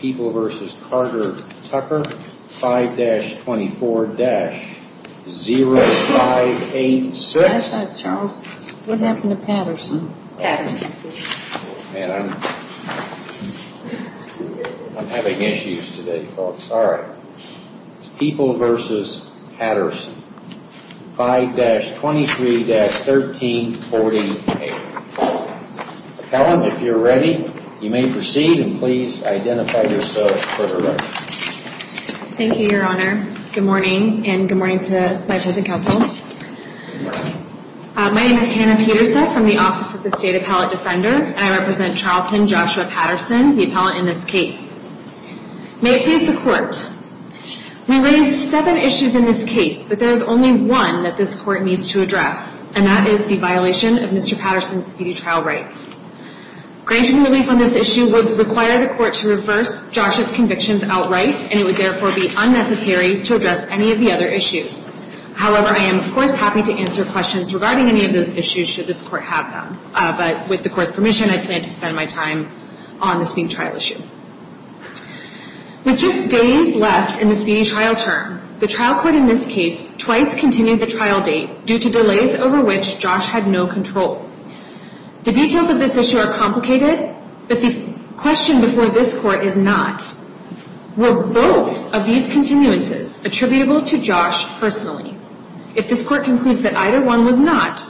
People v. Patterson 5-23-1348 Appellant, if you're ready, you may proceed and please identify yourself for the record. Thank you, Your Honor. Good morning, and good morning to my President Counsel. My name is Hannah Peterseff from the Office of the State Appellate Defender, and I represent Charlton Joshua Patterson, the appellant in this case. May it please the Court, We raised seven issues in this case, but there is only one that this Court needs to address, and that is the violation of Mr. Patterson's speedy trial rights. Granting relief on this issue would require the Court to reverse Josh's convictions outright, and it would therefore be unnecessary to address any of the other issues. However, I am, of course, happy to answer questions regarding any of those issues should this Court have them. But with the Court's permission, I plan to spend my time on the speedy trial issue. With just days left in the speedy trial term, the trial court in this case twice continued the trial date due to delays over which Josh had no control. The details of this issue are complicated, but the question before this Court is not, were both of these continuances attributable to Josh personally? If this Court concludes that either one was not,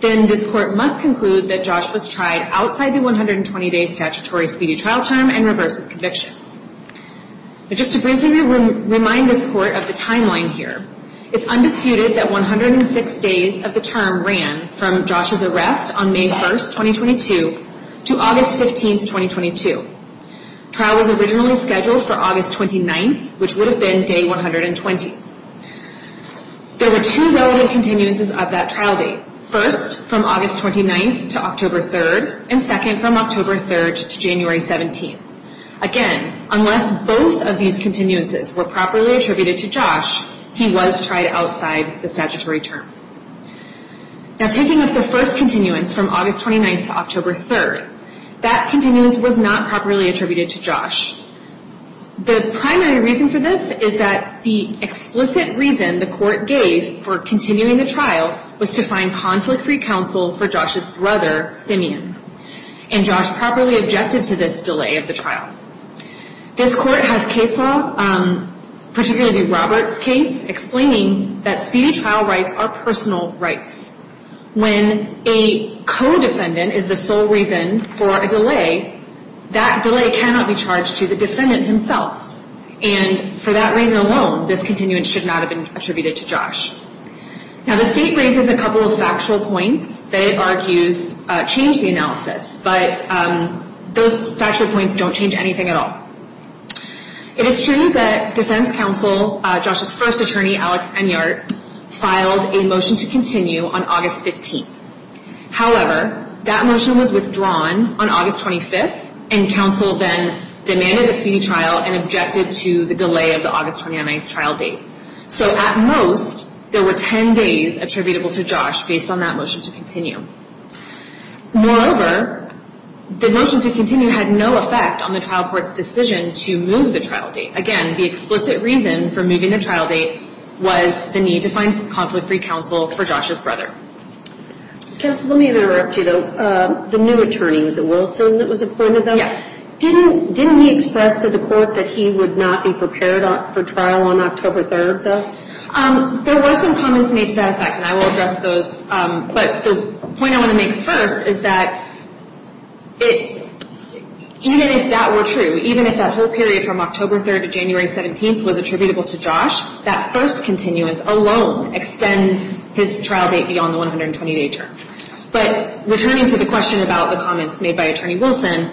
then this Court must conclude that Josh was tried outside the 120-day statutory speedy trial term and reverses convictions. Just to briefly remind this Court of the timeline here, it's undisputed that 106 days of the term ran from Josh's arrest on May 1, 2022, to August 15, 2022. The trial was originally scheduled for August 29, which would have been day 120. There were two relative continuances of that trial date, first from August 29 to October 3, and second from October 3 to January 17. Again, unless both of these continuances were properly attributed to Josh, he was tried outside the statutory term. Now, taking up the first continuance from August 29 to October 3, that continuance was not properly attributed to Josh. The primary reason for this is that the explicit reason the Court gave for continuing the trial was to find conflict-free counsel for Josh's brother, Simeon. And Josh properly objected to this delay of the trial. This Court has case law, particularly the Roberts case, explaining that speedy trial rights are personal rights. When a co-defendant is the sole reason for a delay, that delay cannot be charged to the defendant himself. And for that reason alone, this continuance should not have been attributed to Josh. Now, the State raises a couple of factual points that it argues change the analysis, but those factual points don't change anything at all. It is true that defense counsel, Josh's first attorney, Alex Enyart, filed a motion to continue on August 15. However, that motion was withdrawn on August 25, and counsel then demanded a speedy trial and objected to the delay of the August 29 trial date. So at most, there were 10 days attributable to Josh based on that motion to continue. Moreover, the motion to continue had no effect on the trial court's decision to move the trial date. Again, the explicit reason for moving the trial date was the need to find conflict-free counsel for Josh's brother. Counsel, let me interrupt you, though. The new attorney, was it Wilson that was appointed, though? Yes. Didn't he express to the court that he would not be prepared for trial on October 3rd, though? There were some comments made to that effect, and I will address those. But the point I want to make first is that even if that were true, even if that whole period from October 3rd to January 17th was attributable to Josh, that first continuance alone extends his trial date beyond the 120-day term. But returning to the question about the comments made by Attorney Wilson,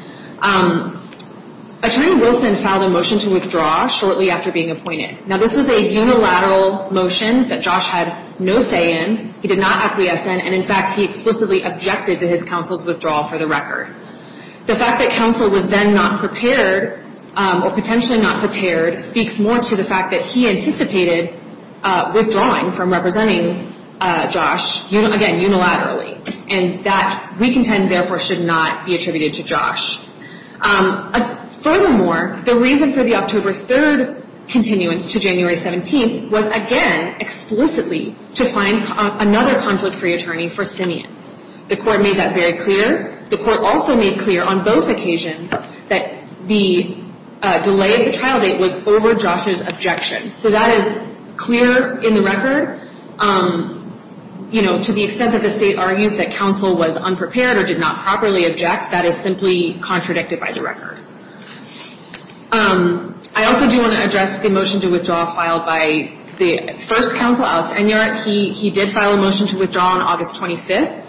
Attorney Wilson filed a motion to withdraw shortly after being appointed. Now, this was a unilateral motion that Josh had no say in. He did not acquiesce in, and in fact, he explicitly objected to his counsel's withdrawal for the record. The fact that counsel was then not prepared, or potentially not prepared, speaks more to the fact that he anticipated withdrawing from representing Josh, again, unilaterally. And that, we contend, therefore, should not be attributed to Josh. Furthermore, the reason for the October 3rd continuance to January 17th was, again, explicitly to find another conflict-free attorney for Simeon. The court made that very clear. The court also made clear on both occasions that the delay of the trial date was over Josh's objection. So that is clear in the record. You know, to the extent that the state argues that counsel was unprepared or did not properly object, that is simply contradicted by the record. I also do want to address the motion to withdraw filed by the first counsel, Alex Enyart. He did file a motion to withdraw on August 25th.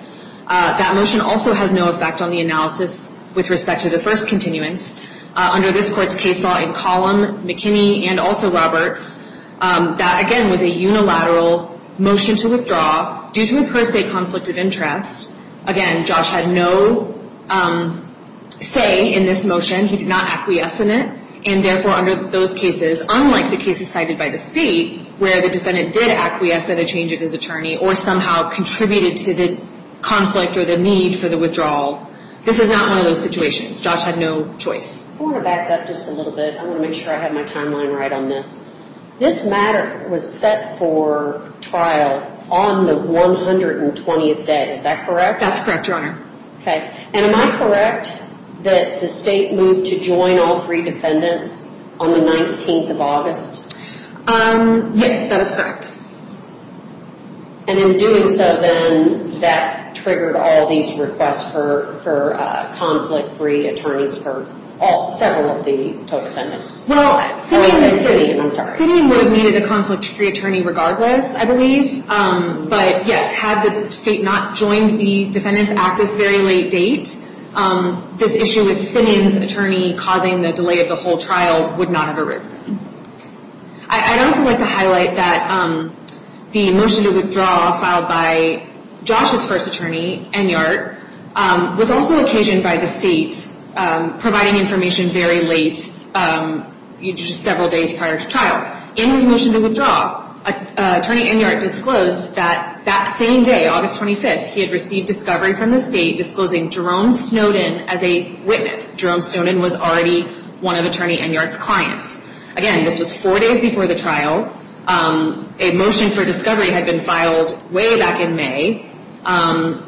That motion also has no effect on the analysis with respect to the first continuance. Under this court's case law in column McKinney and also Roberts, that, again, was a unilateral motion to withdraw due to a per se conflict of interest. Again, Josh had no say in this motion. He did not acquiesce in it. And, therefore, under those cases, unlike the cases cited by the state, where the defendant did acquiesce by the change of his attorney or somehow contributed to the conflict or the need for the withdrawal, this is not one of those situations. Josh had no choice. I want to back up just a little bit. I want to make sure I have my timeline right on this. This matter was set for trial on the 120th day. Is that correct? That's correct, Your Honor. Okay. And am I correct that the state moved to join all three defendants on the 19th of August? Yes, that is correct. And in doing so, then, that triggered all these requests for conflict-free attorneys for several of the total defendants? Well, sitting in the city would have needed a conflict-free attorney regardless, I believe. But, yes, had the state not joined the Defendant's Act this very late date, this issue with Simmons' attorney causing the delay of the whole trial would not have arisen. I'd also like to highlight that the motion to withdraw filed by Josh's first attorney, Enyart, was also occasioned by the state providing information very late, just several days prior to trial. In his motion to withdraw, Attorney Enyart disclosed that that same day, August 25th, he had received discovery from the state disclosing Jerome Snowden as a witness. Jerome Snowden was already one of Attorney Enyart's clients. Again, this was four days before the trial. A motion for discovery had been filed way back in May.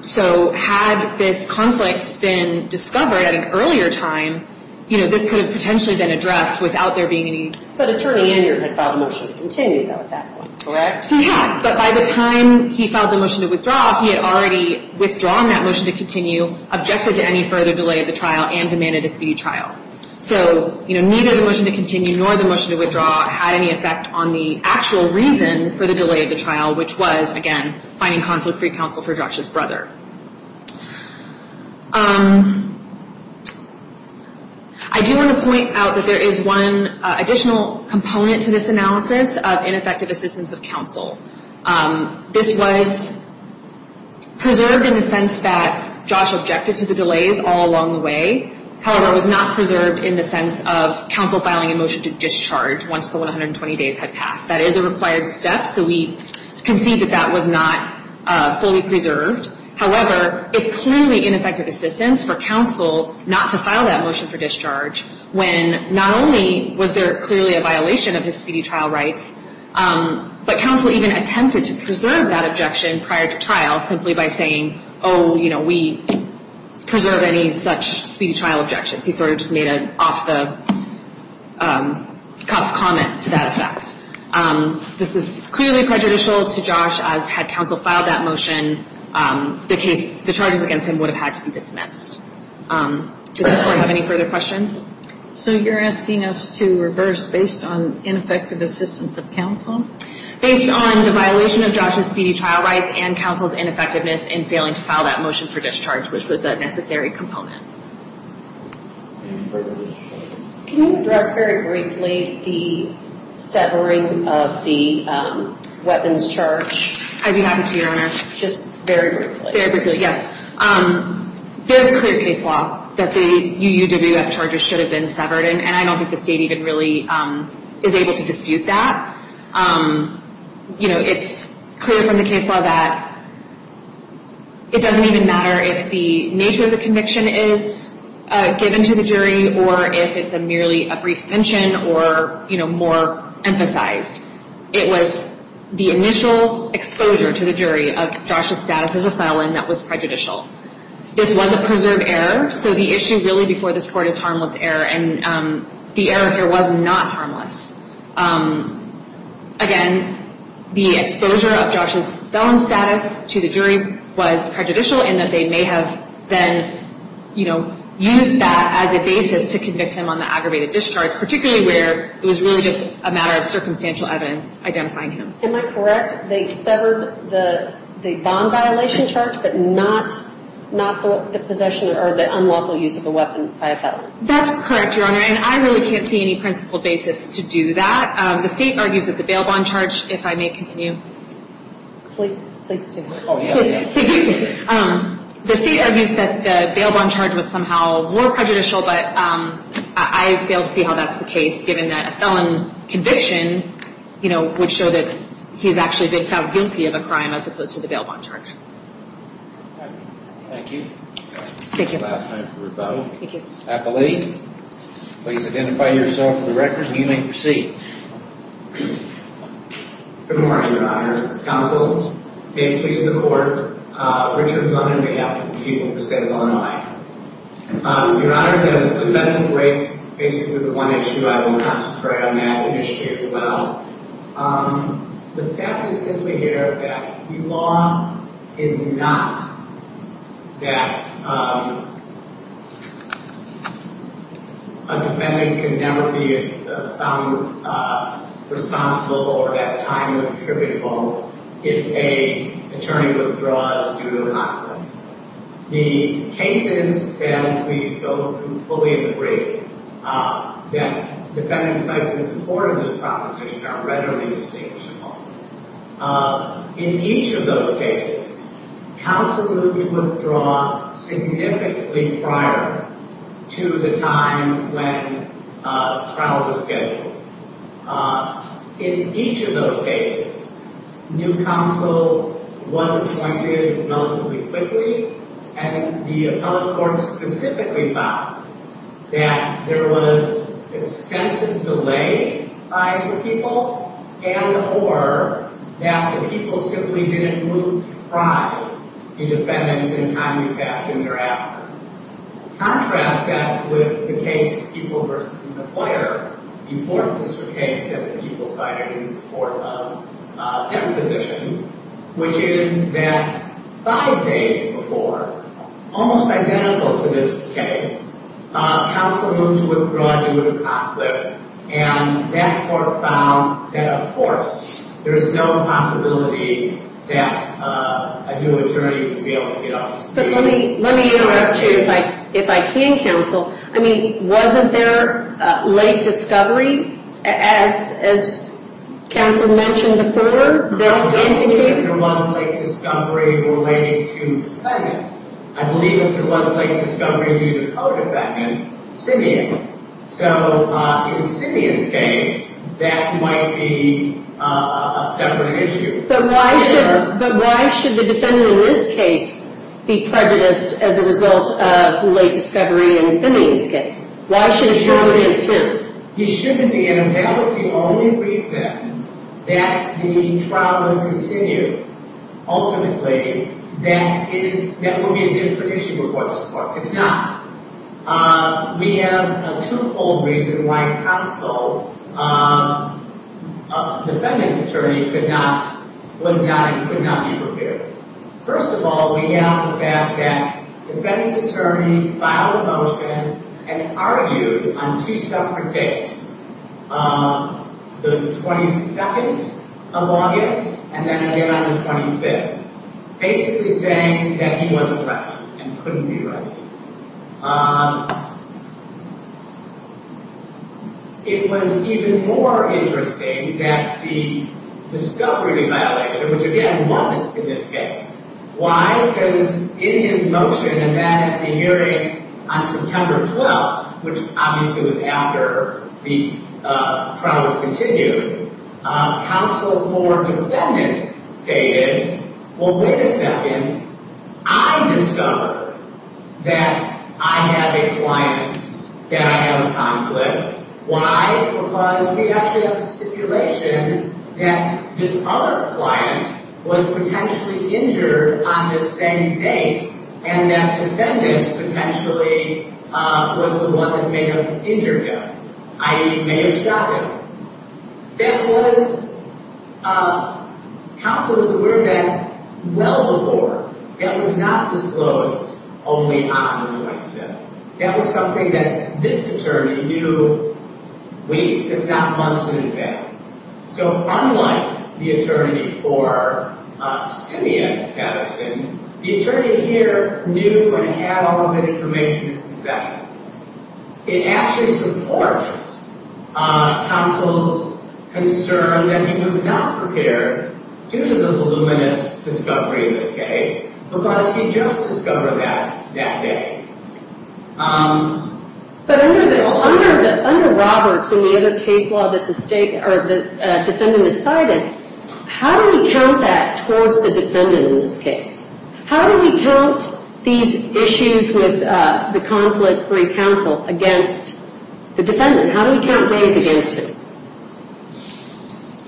So had this conflict been discovered at an earlier time, this could have potentially been addressed without there being any... But Attorney Enyart had filed a motion to continue, though, at that point. Correct. He had, but by the time he filed the motion to withdraw, he had already withdrawn that motion to continue, objected to any further delay of the trial, and demanded a speed trial. So neither the motion to continue nor the motion to withdraw had any effect on the actual reason for the delay of the trial, which was, again, finding conflict-free counsel for Josh's brother. I do want to point out that there is one additional component to this analysis of ineffective assistance of counsel. This was preserved in the sense that Josh objected to the delays all along the way. However, it was not preserved in the sense of counsel filing a motion to discharge once the 120 days had passed. That is a required step, so we concede that that was not fully preserved. However, it's clearly ineffective assistance for counsel not to file that motion for discharge when not only was there clearly a violation of his speedy trial rights, but counsel even attempted to preserve that objection prior to trial simply by saying, oh, you know, we preserve any such speedy trial objections. He sort of just made an off-the-cuff comment to that effect. This is clearly prejudicial to Josh, as had counsel filed that motion, the charges against him would have had to be dismissed. Does anyone have any further questions? So you're asking us to reverse based on ineffective assistance of counsel? Based on the violation of Josh's speedy trial rights and counsel's ineffectiveness in failing to file that motion for discharge, which was a necessary component. Can you address very briefly the severing of the weapons charge? I'd be happy to, Your Honor. Just very briefly. Very briefly, yes. There's clear case law that the UUWF charges should have been severed, and I don't think the state even really is able to dispute that. You know, it's clear from the case law that it doesn't even matter if the nature of the conviction is given to the jury or if it's merely a brief mention or, you know, more emphasized. It was the initial exposure to the jury of Josh's status as a felon that was prejudicial. This was a preserved error, so the issue really before this Court is harmless error, and the error here was not harmless. Again, the exposure of Josh's felon status to the jury was prejudicial in that they may have been, you know, used that as a basis to convict him on the aggravated discharge, particularly where it was really just a matter of circumstantial evidence identifying him. Am I correct? They severed the bond violation charge but not the possession or the unlawful use of the weapon by a felon? That's correct, Your Honor, and I really can't see any principled basis to do that. The state argues that the bail bond charge, if I may continue. Please do. The state argues that the bail bond charge was somehow more prejudicial, but I fail to see how that's the case given that a felon conviction, you know, would show that he's actually been found guilty of a crime as opposed to the bail bond charge. Thank you. Thank you. That's the last time for rebuttal. Thank you. Appellee, please identify yourself for the record and you may proceed. Good morning, Your Honors. Counsel, may it please the Court, Richard Gunner, on behalf of the people of the state of Illinois. Your Honors, as defendant rates basically the one issue, I will concentrate on that issue as well. The fact is simply here that the law is not that a defendant can never be found responsible for that time of tributable if a attorney withdraws due to a conflict. The cases, as we go through fully in the brief, that defendant cites in support of this proposition are readily distinguishable. In each of those cases, counsel would withdraw significantly prior to the time when trial was scheduled. In each of those cases, new counsel was appointed relatively quickly and the appellate court specifically found that there was extensive delay by the people and or that the people simply didn't move prior to defendants in timely fashion thereafter. Contrast that with the case of people versus the employer, the fourth district case that the people cited in support of their position, which is that five days before, almost identical to this case, counsel moved to withdraw due to conflict and that court found that, of course, there is no possibility that a new attorney would be able to get off the street. But let me interrupt you if I can, counsel. I mean, wasn't there late discovery, as counsel mentioned before? There was late discovery related to defendant. I believe that there was late discovery due to co-defendant Simeon. So in Simeon's case, that might be a separate issue. But why should the defendant in this case be prejudiced as a result of late discovery in Simeon's case? Why should a co-defendant be prejudiced? He shouldn't be. And that was the only reason that the trial was continued. Ultimately, that will be a different issue before this court. It's not. We have a two-fold reason why counsel, defendant's attorney, was not and could not be prepared. First of all, we have the fact that defendant's attorney filed a motion and argued on two separate dates, the 22nd of August and then again on the 25th, basically saying that he wasn't ready and couldn't be ready. It was even more interesting that the discovery violation, which again wasn't in this case. Why? Because in his motion, and that at the hearing on September 12th, which obviously was after the trial was continued, counsel for defendant stated, Well, wait a second. I discovered that I have a client that I have a conflict. Why? Because we actually have a stipulation that this other client was potentially injured on this same date and that defendant potentially was the one that may have injured him, i.e. may have shot him. That was, counsel was aware of that well before. That was not disclosed only on the 25th. That was something that this attorney knew weeks, if not months in advance. So unlike the attorney for Simeon Patterson, the attorney here knew and had all of that information in his possession. It actually supports counsel's concern that he was not prepared due to the voluminous discovery in this case because he just discovered that that day. But under Roberts and the other case law that the defendant decided, how do we count that towards the defendant in this case? How do we count these issues with the conflict-free counsel against the defendant? How do we count days against him?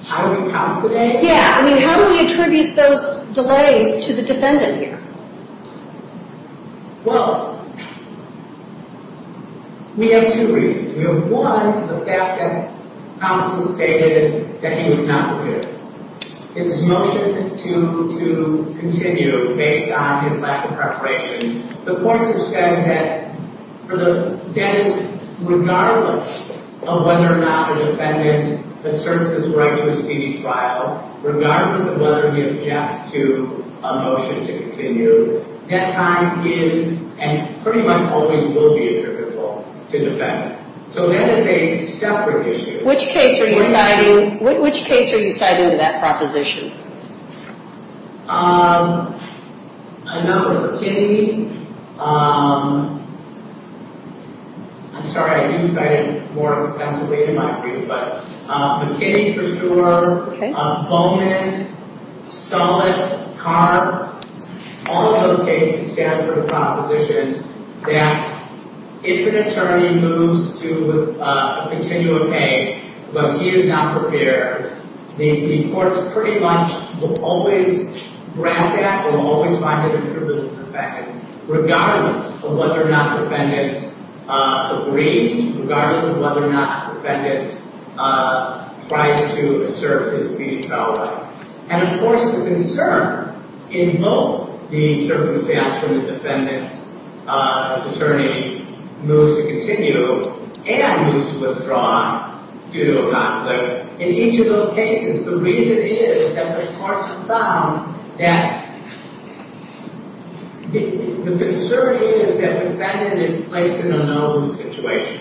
How do we count the days? Yeah, I mean, how do we attribute those delays to the defendant here? Well, we have two reasons. We have one, the fact that counsel stated that he was not prepared. His motion to continue based on his lack of preparation, the courts have said that regardless of whether or not the defendant asserts his right to a speedy trial, regardless of whether he objects to a motion to continue, that time is and pretty much always will be attributable to the defendant. So that is a separate issue. Which case are you citing? Which case are you citing in that proposition? I'm not with McKinney. I'm sorry, I do cite it more ostensibly in my brief, but McKinney for sure. Bowman, Sullis, Carr, all of those cases stand for the proposition that if an attorney moves to continue a case because he is not prepared, the courts pretty much will always grab that and will always find it attributable to the defendant regardless of whether or not the defendant agrees, regardless of whether or not the defendant tries to assert his speedy trial right. And of course the concern in both the circumstance when the defendant as attorney moves to continue and moves to withdraw due to a conflict, in each of those cases the reason is that the courts have found that the concern is that the defendant is placed in a no-lose situation,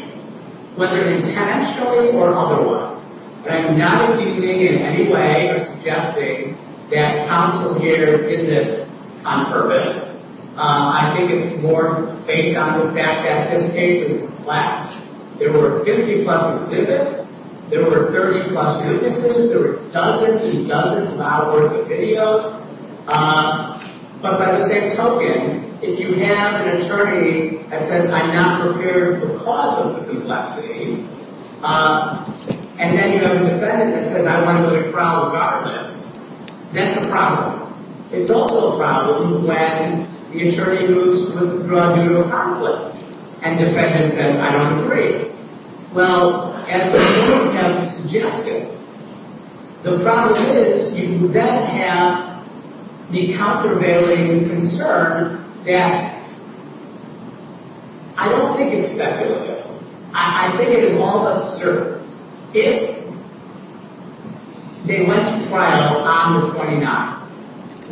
whether intentionally or otherwise. I'm not accusing in any way or suggesting that counsel here did this on purpose. I think it's more based on the fact that this case is complex. There were 50 plus exhibits. There were 30 plus witnesses. There were dozens and dozens of hours of videos. But by the same token, if you have an attorney that says, I'm not prepared because of the complexity, and then you have a defendant that says, I want to go to trial regardless, that's a problem. It's also a problem when the attorney moves to withdraw due to a conflict and the defendant says, I don't agree. Well, as the courts have suggested, the problem is you then have the countervailing concern that I don't think it's speculative. I think it is all of us certain. If they went to trial on the 29th,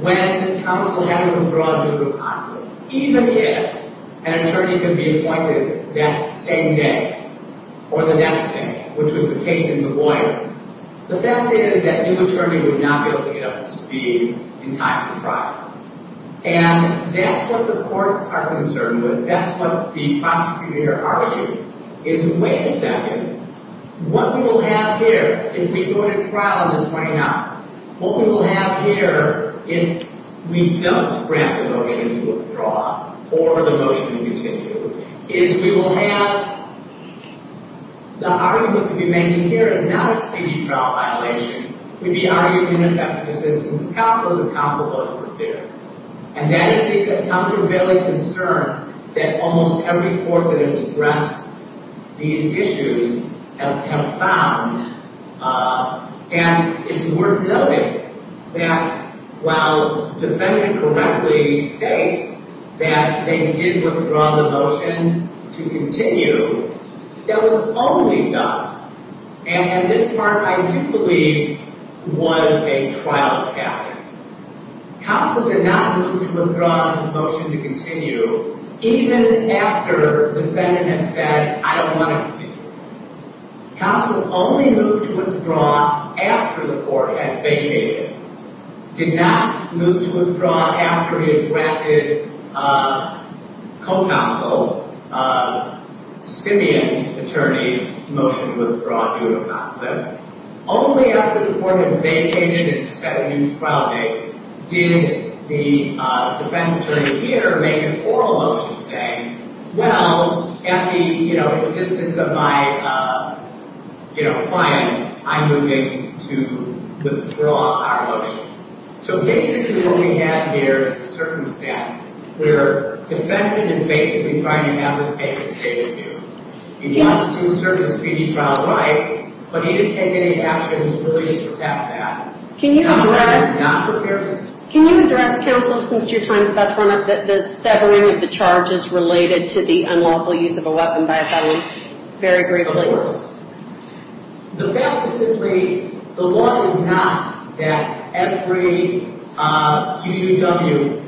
when counsel had to withdraw due to a conflict, even if an attorney could be appointed that same day or the next day, which was the case of the lawyer, the fact is that new attorney would not be able to get up to speed in time for trial. And that's what the courts are concerned with. That's what the prosecutor argued, is wait a second. What we will have here, if we go to trial on the 29th, what we will have here if we don't grant the motion to withdraw or the motion to continue, is we will have, the argument we'll be making here is not a speedy trial violation. We'll be arguing an effective assistance of counsel, because counsel doesn't work there. And that is the countervailing concerns that almost every court that has addressed these issues have found. And it's worth noting that while defendant correctly states that they did withdraw the motion to continue, that was only done, and this part I do believe was a trial tactic. Counsel did not move to withdraw his motion to continue even after defendant had said, I don't want to continue. Counsel only moved to withdraw after the court had vacated. Did not move to withdraw after he had granted co-counsel, Simeon's attorney's motion to withdraw due to conflict. Only after the court had vacated and set a new trial date did the defense attorney here make an oral motion saying, well, at the insistence of my client, I'm moving to withdraw our motion. So basically what we have here is a circumstance where defendant is basically trying to have this case stated to him. He wants to assert his speedy trial right, but he didn't take any actions to really protect that. Can you address counsel, since your time is about to run up, the severing of the charges related to the unlawful use of a weapon by a felon? Very briefly. The fact is simply the law is not that every UUW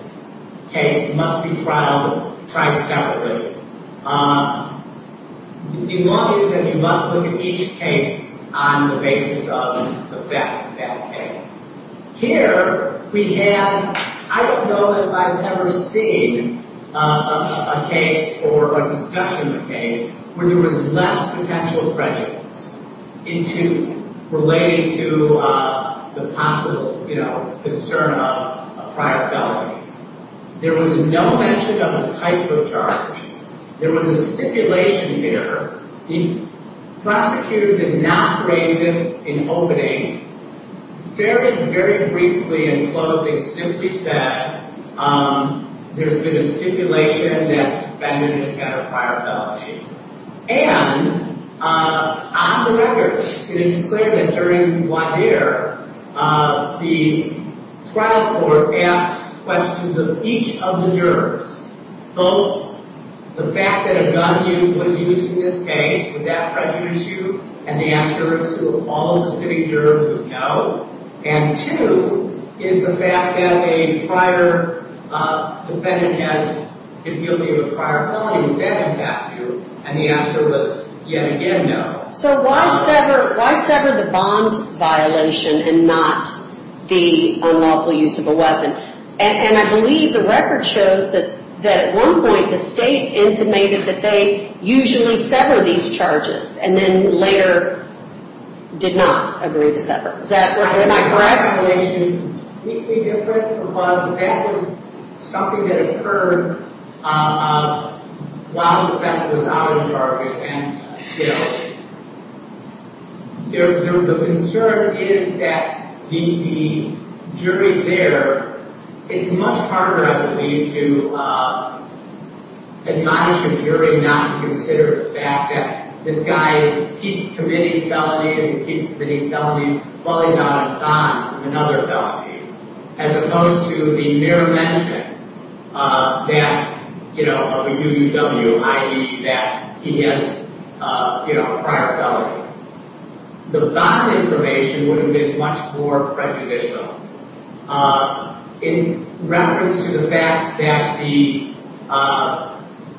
case must be tried separately. The law is that you must look at each case on the basis of the facts of that case. Here we have, I don't know if I've ever seen a case or a discussion of a case where there was less potential prejudice relating to the possible concern of a prior felony. There was no mention of a type of charge. There was a stipulation here. The prosecutor did not raise it in opening. Very, very briefly in closing, simply said, there's been a stipulation that the defendant has had a prior felony. And on the record, it is clear that during one year, the trial court asked questions of each of the jurors. Both the fact that a gun was used in this case, would that prejudice you? And the answer to all of the sitting jurors was no. And two is the fact that a prior defendant has been guilty of a prior felony, would that impact you? And the answer was, yet again, no. So why sever the bond violation and not the unlawful use of a weapon? And I believe the record shows that at one point, the state intimated that they usually sever these charges and then later did not agree to sever. Is that correct? And my correct explanation is completely different. Because that was something that occurred while the defendant was out of charges. And, you know, the concern is that the jury there, it's much harder, I believe, to admonish a jury not to consider the fact that this guy keeps committing felonies and keeps committing felonies while he's out of bond from another felony. As opposed to the mere mention that, you know, of a UUW, i.e. that he has, you know, a prior felony. The bond information would have been much more prejudicial. In reference to the fact that the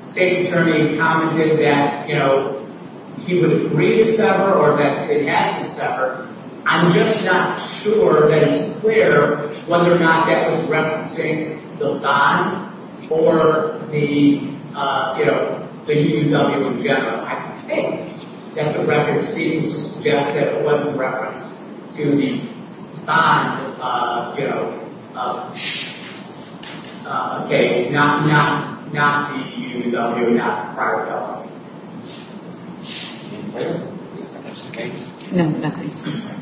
state's attorney commented that, you know, he would agree to sever or that it had to sever, I'm just not sure that it's clear whether or not that was referencing the bond or the, you know, the UUW in general. I think that the record seems to suggest that it was a reference to the bond, you know, case, not the UUW, not the prior felony. Any further questions? No, nothing.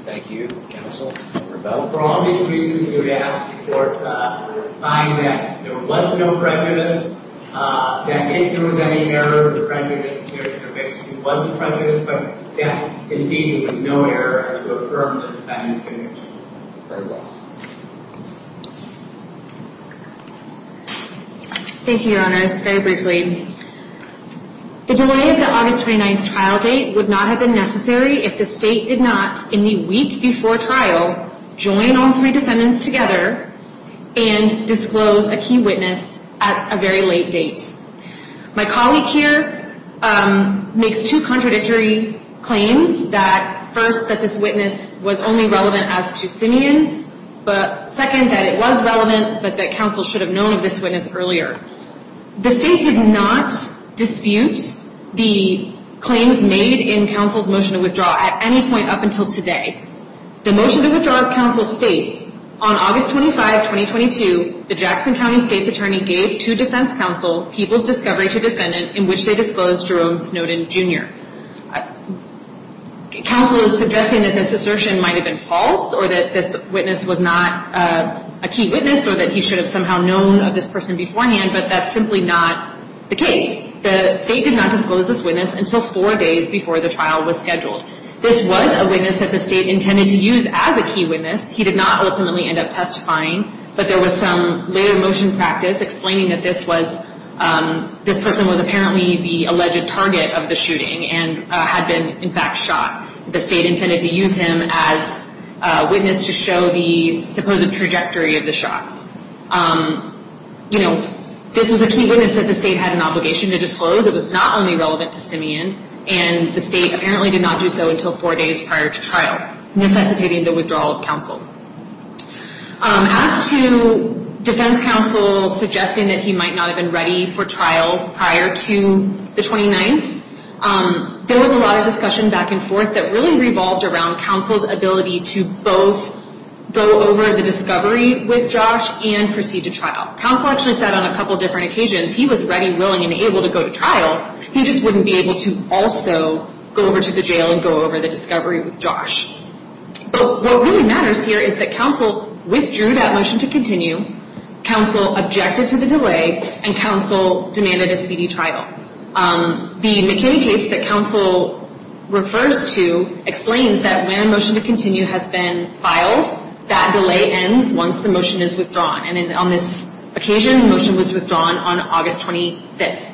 Thank you, counsel. For all of these reasons, we would ask the court to find that there was no prejudice, that if there was any error of the prejudice, it wasn't prejudice, but that, indeed, there was no error to affirm the defendant's conviction. Very well. Thank you, Your Honor. Just very briefly, the delay of the August 29th trial date would not have been necessary if the state did not, in the week before trial, join all three defendants together and disclose a key witness at a very late date. My colleague here makes two contradictory claims, that, first, that this witness was only relevant as to Simeon, but, second, that it was relevant, but that counsel should have known of this witness earlier. The state did not dispute the claims made in counsel's motion to withdraw at any point up until today. The motion to withdraw, as counsel states, on August 25, 2022, the Jackson County State's attorney gave to defense counsel people's discovery to defendant in which they disclosed Jerome Snowden, Jr. Counsel is suggesting that this assertion might have been false or that this witness was not a key witness or that he should have somehow known of this person beforehand, but that's simply not the case. The state did not disclose this witness until four days before the trial was scheduled. This was a witness that the state intended to use as a key witness. He did not ultimately end up testifying, but there was some later motion practice explaining that this person was apparently the alleged target of the shooting and had been, in fact, shot. The state intended to use him as a witness to show the supposed trajectory of the shots. You know, this was a key witness that the state had an obligation to disclose. It was not only relevant to Simeon, and the state apparently did not do so until four days prior to trial, necessitating the withdrawal of counsel. As to defense counsel suggesting that he might not have been ready for trial prior to the 29th, there was a lot of discussion back and forth that really revolved around counsel's ability to both go over the discovery with Josh and proceed to trial. Counsel actually said on a couple different occasions he was ready, willing, and able to go to trial. He just wouldn't be able to also go over to the jail and go over the discovery with Josh. But what really matters here is that counsel withdrew that motion to continue, counsel objected to the delay, and counsel demanded a speedy trial. The McKinney case that counsel refers to explains that when a motion to continue has been filed, that delay ends once the motion is withdrawn. And on this occasion, the motion was withdrawn on August 25th.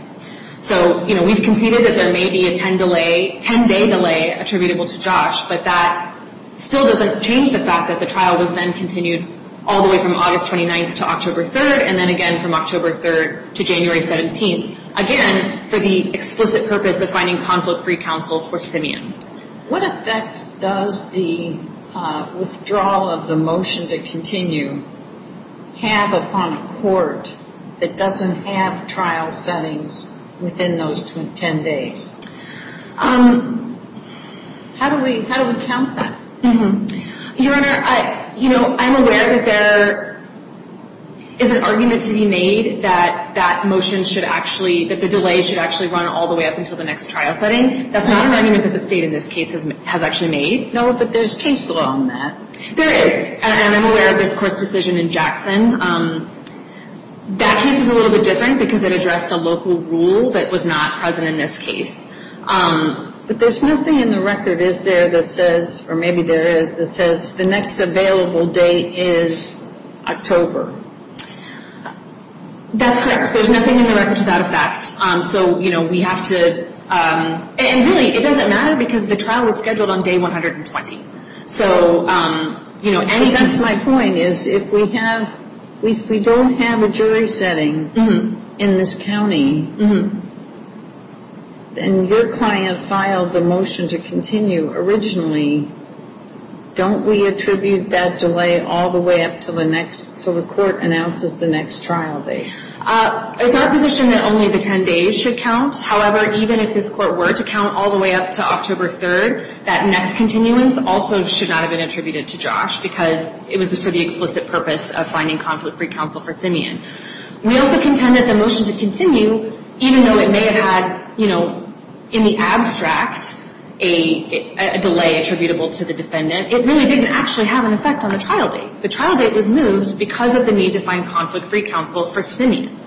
So, you know, we've conceded that there may be a 10-day delay attributable to Josh, but that still doesn't change the fact that the trial was then continued all the way from August 29th to October 3rd, and then again from October 3rd to January 17th. Again, for the explicit purpose of finding conflict-free counsel for Simeon. What effect does the withdrawal of the motion to continue have upon a court that doesn't have trial settings within those 10 days? How do we count that? Your Honor, you know, I'm aware that there is an argument to be made that that motion should actually, that the delay should actually run all the way up until the next trial setting. That's not an argument that the State in this case has actually made. No, but there's case law on that. There is, and I'm aware of this Court's decision in Jackson. That case is a little bit different because it addressed a local rule that was not present in this case. But there's nothing in the record, is there, that says, or maybe there is, that says the next available date is October. That's correct. There's nothing in the record without a fact. So, you know, we have to, and really it doesn't matter because the trial was scheduled on day 120. So, you know, and that's my point is if we have, if we don't have a jury setting in this county, and your client filed the motion to continue originally, don't we attribute that delay all the way up until the next, until the Court announces the next trial date? It's our position that only the 10 days should count. However, even if this Court were to count all the way up to October 3rd, that next continuance also should not have been attributed to Josh because it was for the explicit purpose of finding conflict-free counsel for Simeon. We also contend that the motion to continue, even though it may have had, you know, in the abstract a delay attributable to the defendant, it really didn't actually have an effect on the trial date. The trial date was moved because of the need to find conflict-free counsel for Simeon.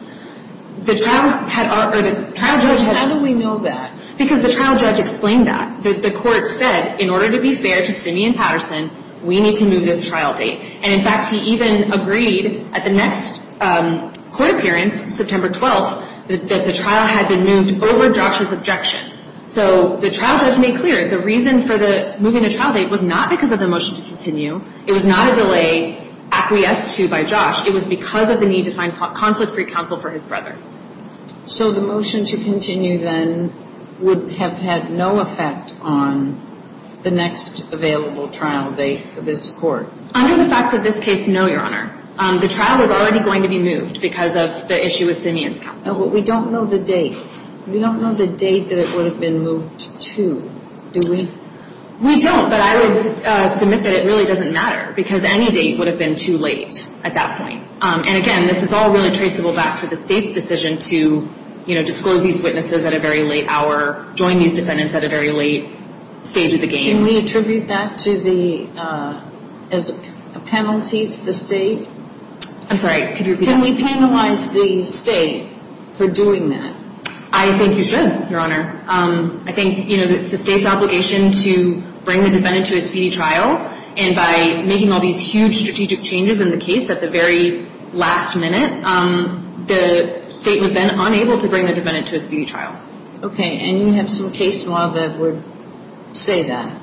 The trial had, or the trial judge had... How do we know that? Because the trial judge explained that. The Court said, in order to be fair to Simeon Patterson, we need to move this trial date. And, in fact, he even agreed at the next Court appearance, September 12th, that the trial had been moved over Josh's objection. So the trial judge made clear the reason for moving the trial date was not because of the motion to continue. It was not a delay acquiesced to by Josh. It was because of the need to find conflict-free counsel for his brother. So the motion to continue, then, would have had no effect on the next available trial date for this Court? Under the facts of this case, no, Your Honor. The trial was already going to be moved because of the issue with Simeon's counsel. But we don't know the date. We don't know the date that it would have been moved to. Do we? We don't, but I would submit that it really doesn't matter because any date would have been too late at that point. And, again, this is all really traceable back to the State's decision to, you know, disclose these witnesses at a very late hour, join these defendants at a very late stage of the game. Can we attribute that to the penalties the State? I'm sorry, could you repeat that? Can we penalize the State for doing that? I think you should, Your Honor. I think, you know, it's the State's obligation to bring the defendant to a speedy trial. And by making all these huge strategic changes in the case at the very last minute, the State was then unable to bring the defendant to a speedy trial. Okay, and you have some case law that would say that.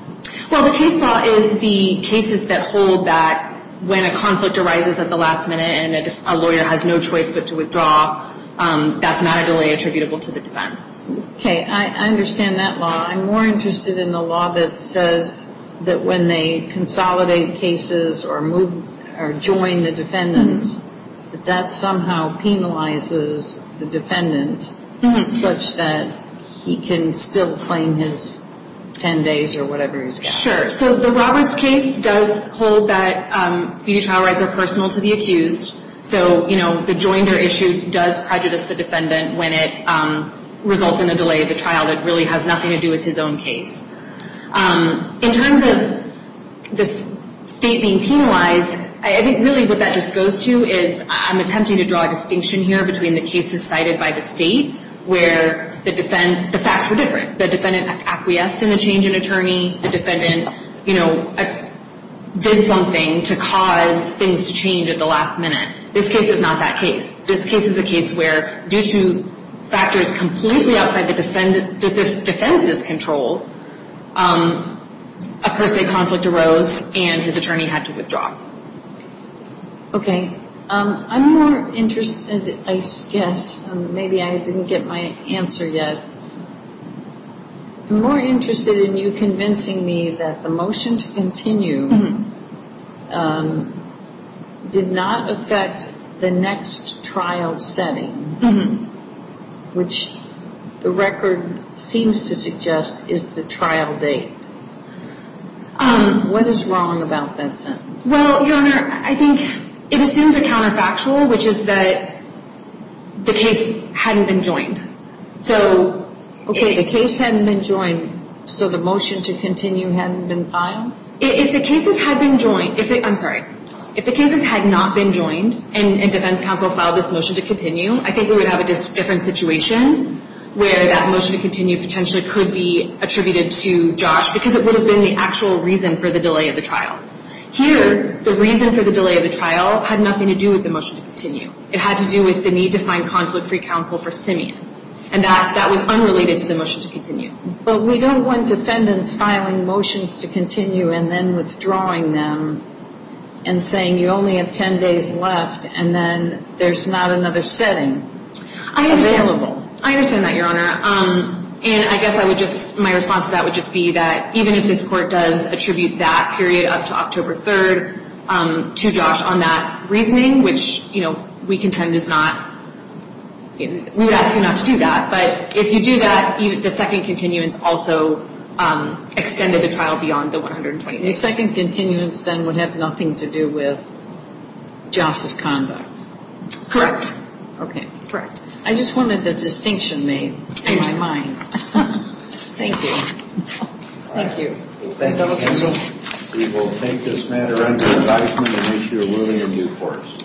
Well, the case law is the cases that hold that when a conflict arises at the last minute and a lawyer has no choice but to withdraw, that's not a delay attributable to the defense. Okay, I understand that law. I'm more interested in the law that says that when they consolidate cases or join the defendants, that that somehow penalizes the defendant such that he can still claim his 10 days or whatever he's got. Sure, so the Roberts case does hold that speedy trial rights are personal to the accused. So, you know, the joinder issue does prejudice the defendant when it results in a delay of the trial that really has nothing to do with his own case. In terms of the State being penalized, I think really what that just goes to is I'm attempting to draw a distinction here between the cases cited by the State where the facts were different. The defendant acquiesced in the change in attorney. The defendant, you know, did something to cause things to change at the last minute. This case is not that case. This case is a case where due to factors completely outside the defense's control, a per se conflict arose and his attorney had to withdraw. Okay. I'm more interested, I guess, maybe I didn't get my answer yet. I'm more interested in you convincing me that the motion to continue did not affect the next trial setting, which the record seems to suggest is the trial date. What is wrong about that sentence? Well, Your Honor, I think it assumes a counterfactual, which is that the case hadn't been joined. Okay, the case hadn't been joined, so the motion to continue hadn't been filed? If the cases had been joined, I'm sorry, if the cases had not been joined and defense counsel filed this motion to continue, I think we would have a different situation where that motion to continue potentially could be attributed to Josh because it would have been the actual reason for the delay of the trial. Here, the reason for the delay of the trial had nothing to do with the motion to continue. It had to do with the need to find conflict-free counsel for Simeon, and that was unrelated to the motion to continue. But we don't want defendants filing motions to continue and then withdrawing them and saying you only have 10 days left and then there's not another setting available. I understand that, Your Honor, and I guess my response to that would just be that even if this court does attribute that period up to October 3rd to Josh on that reasoning, which we contend is not – we would ask you not to do that. But if you do that, the second continuance also extended the trial beyond the 120 days. The second continuance then would have nothing to do with Josh's conduct. Correct. Okay. Correct. I just wanted the distinction made in my mind. Thank you. Thank you. Thank you, Counsel. We will take this matter under advisement and issue a ruling in due course.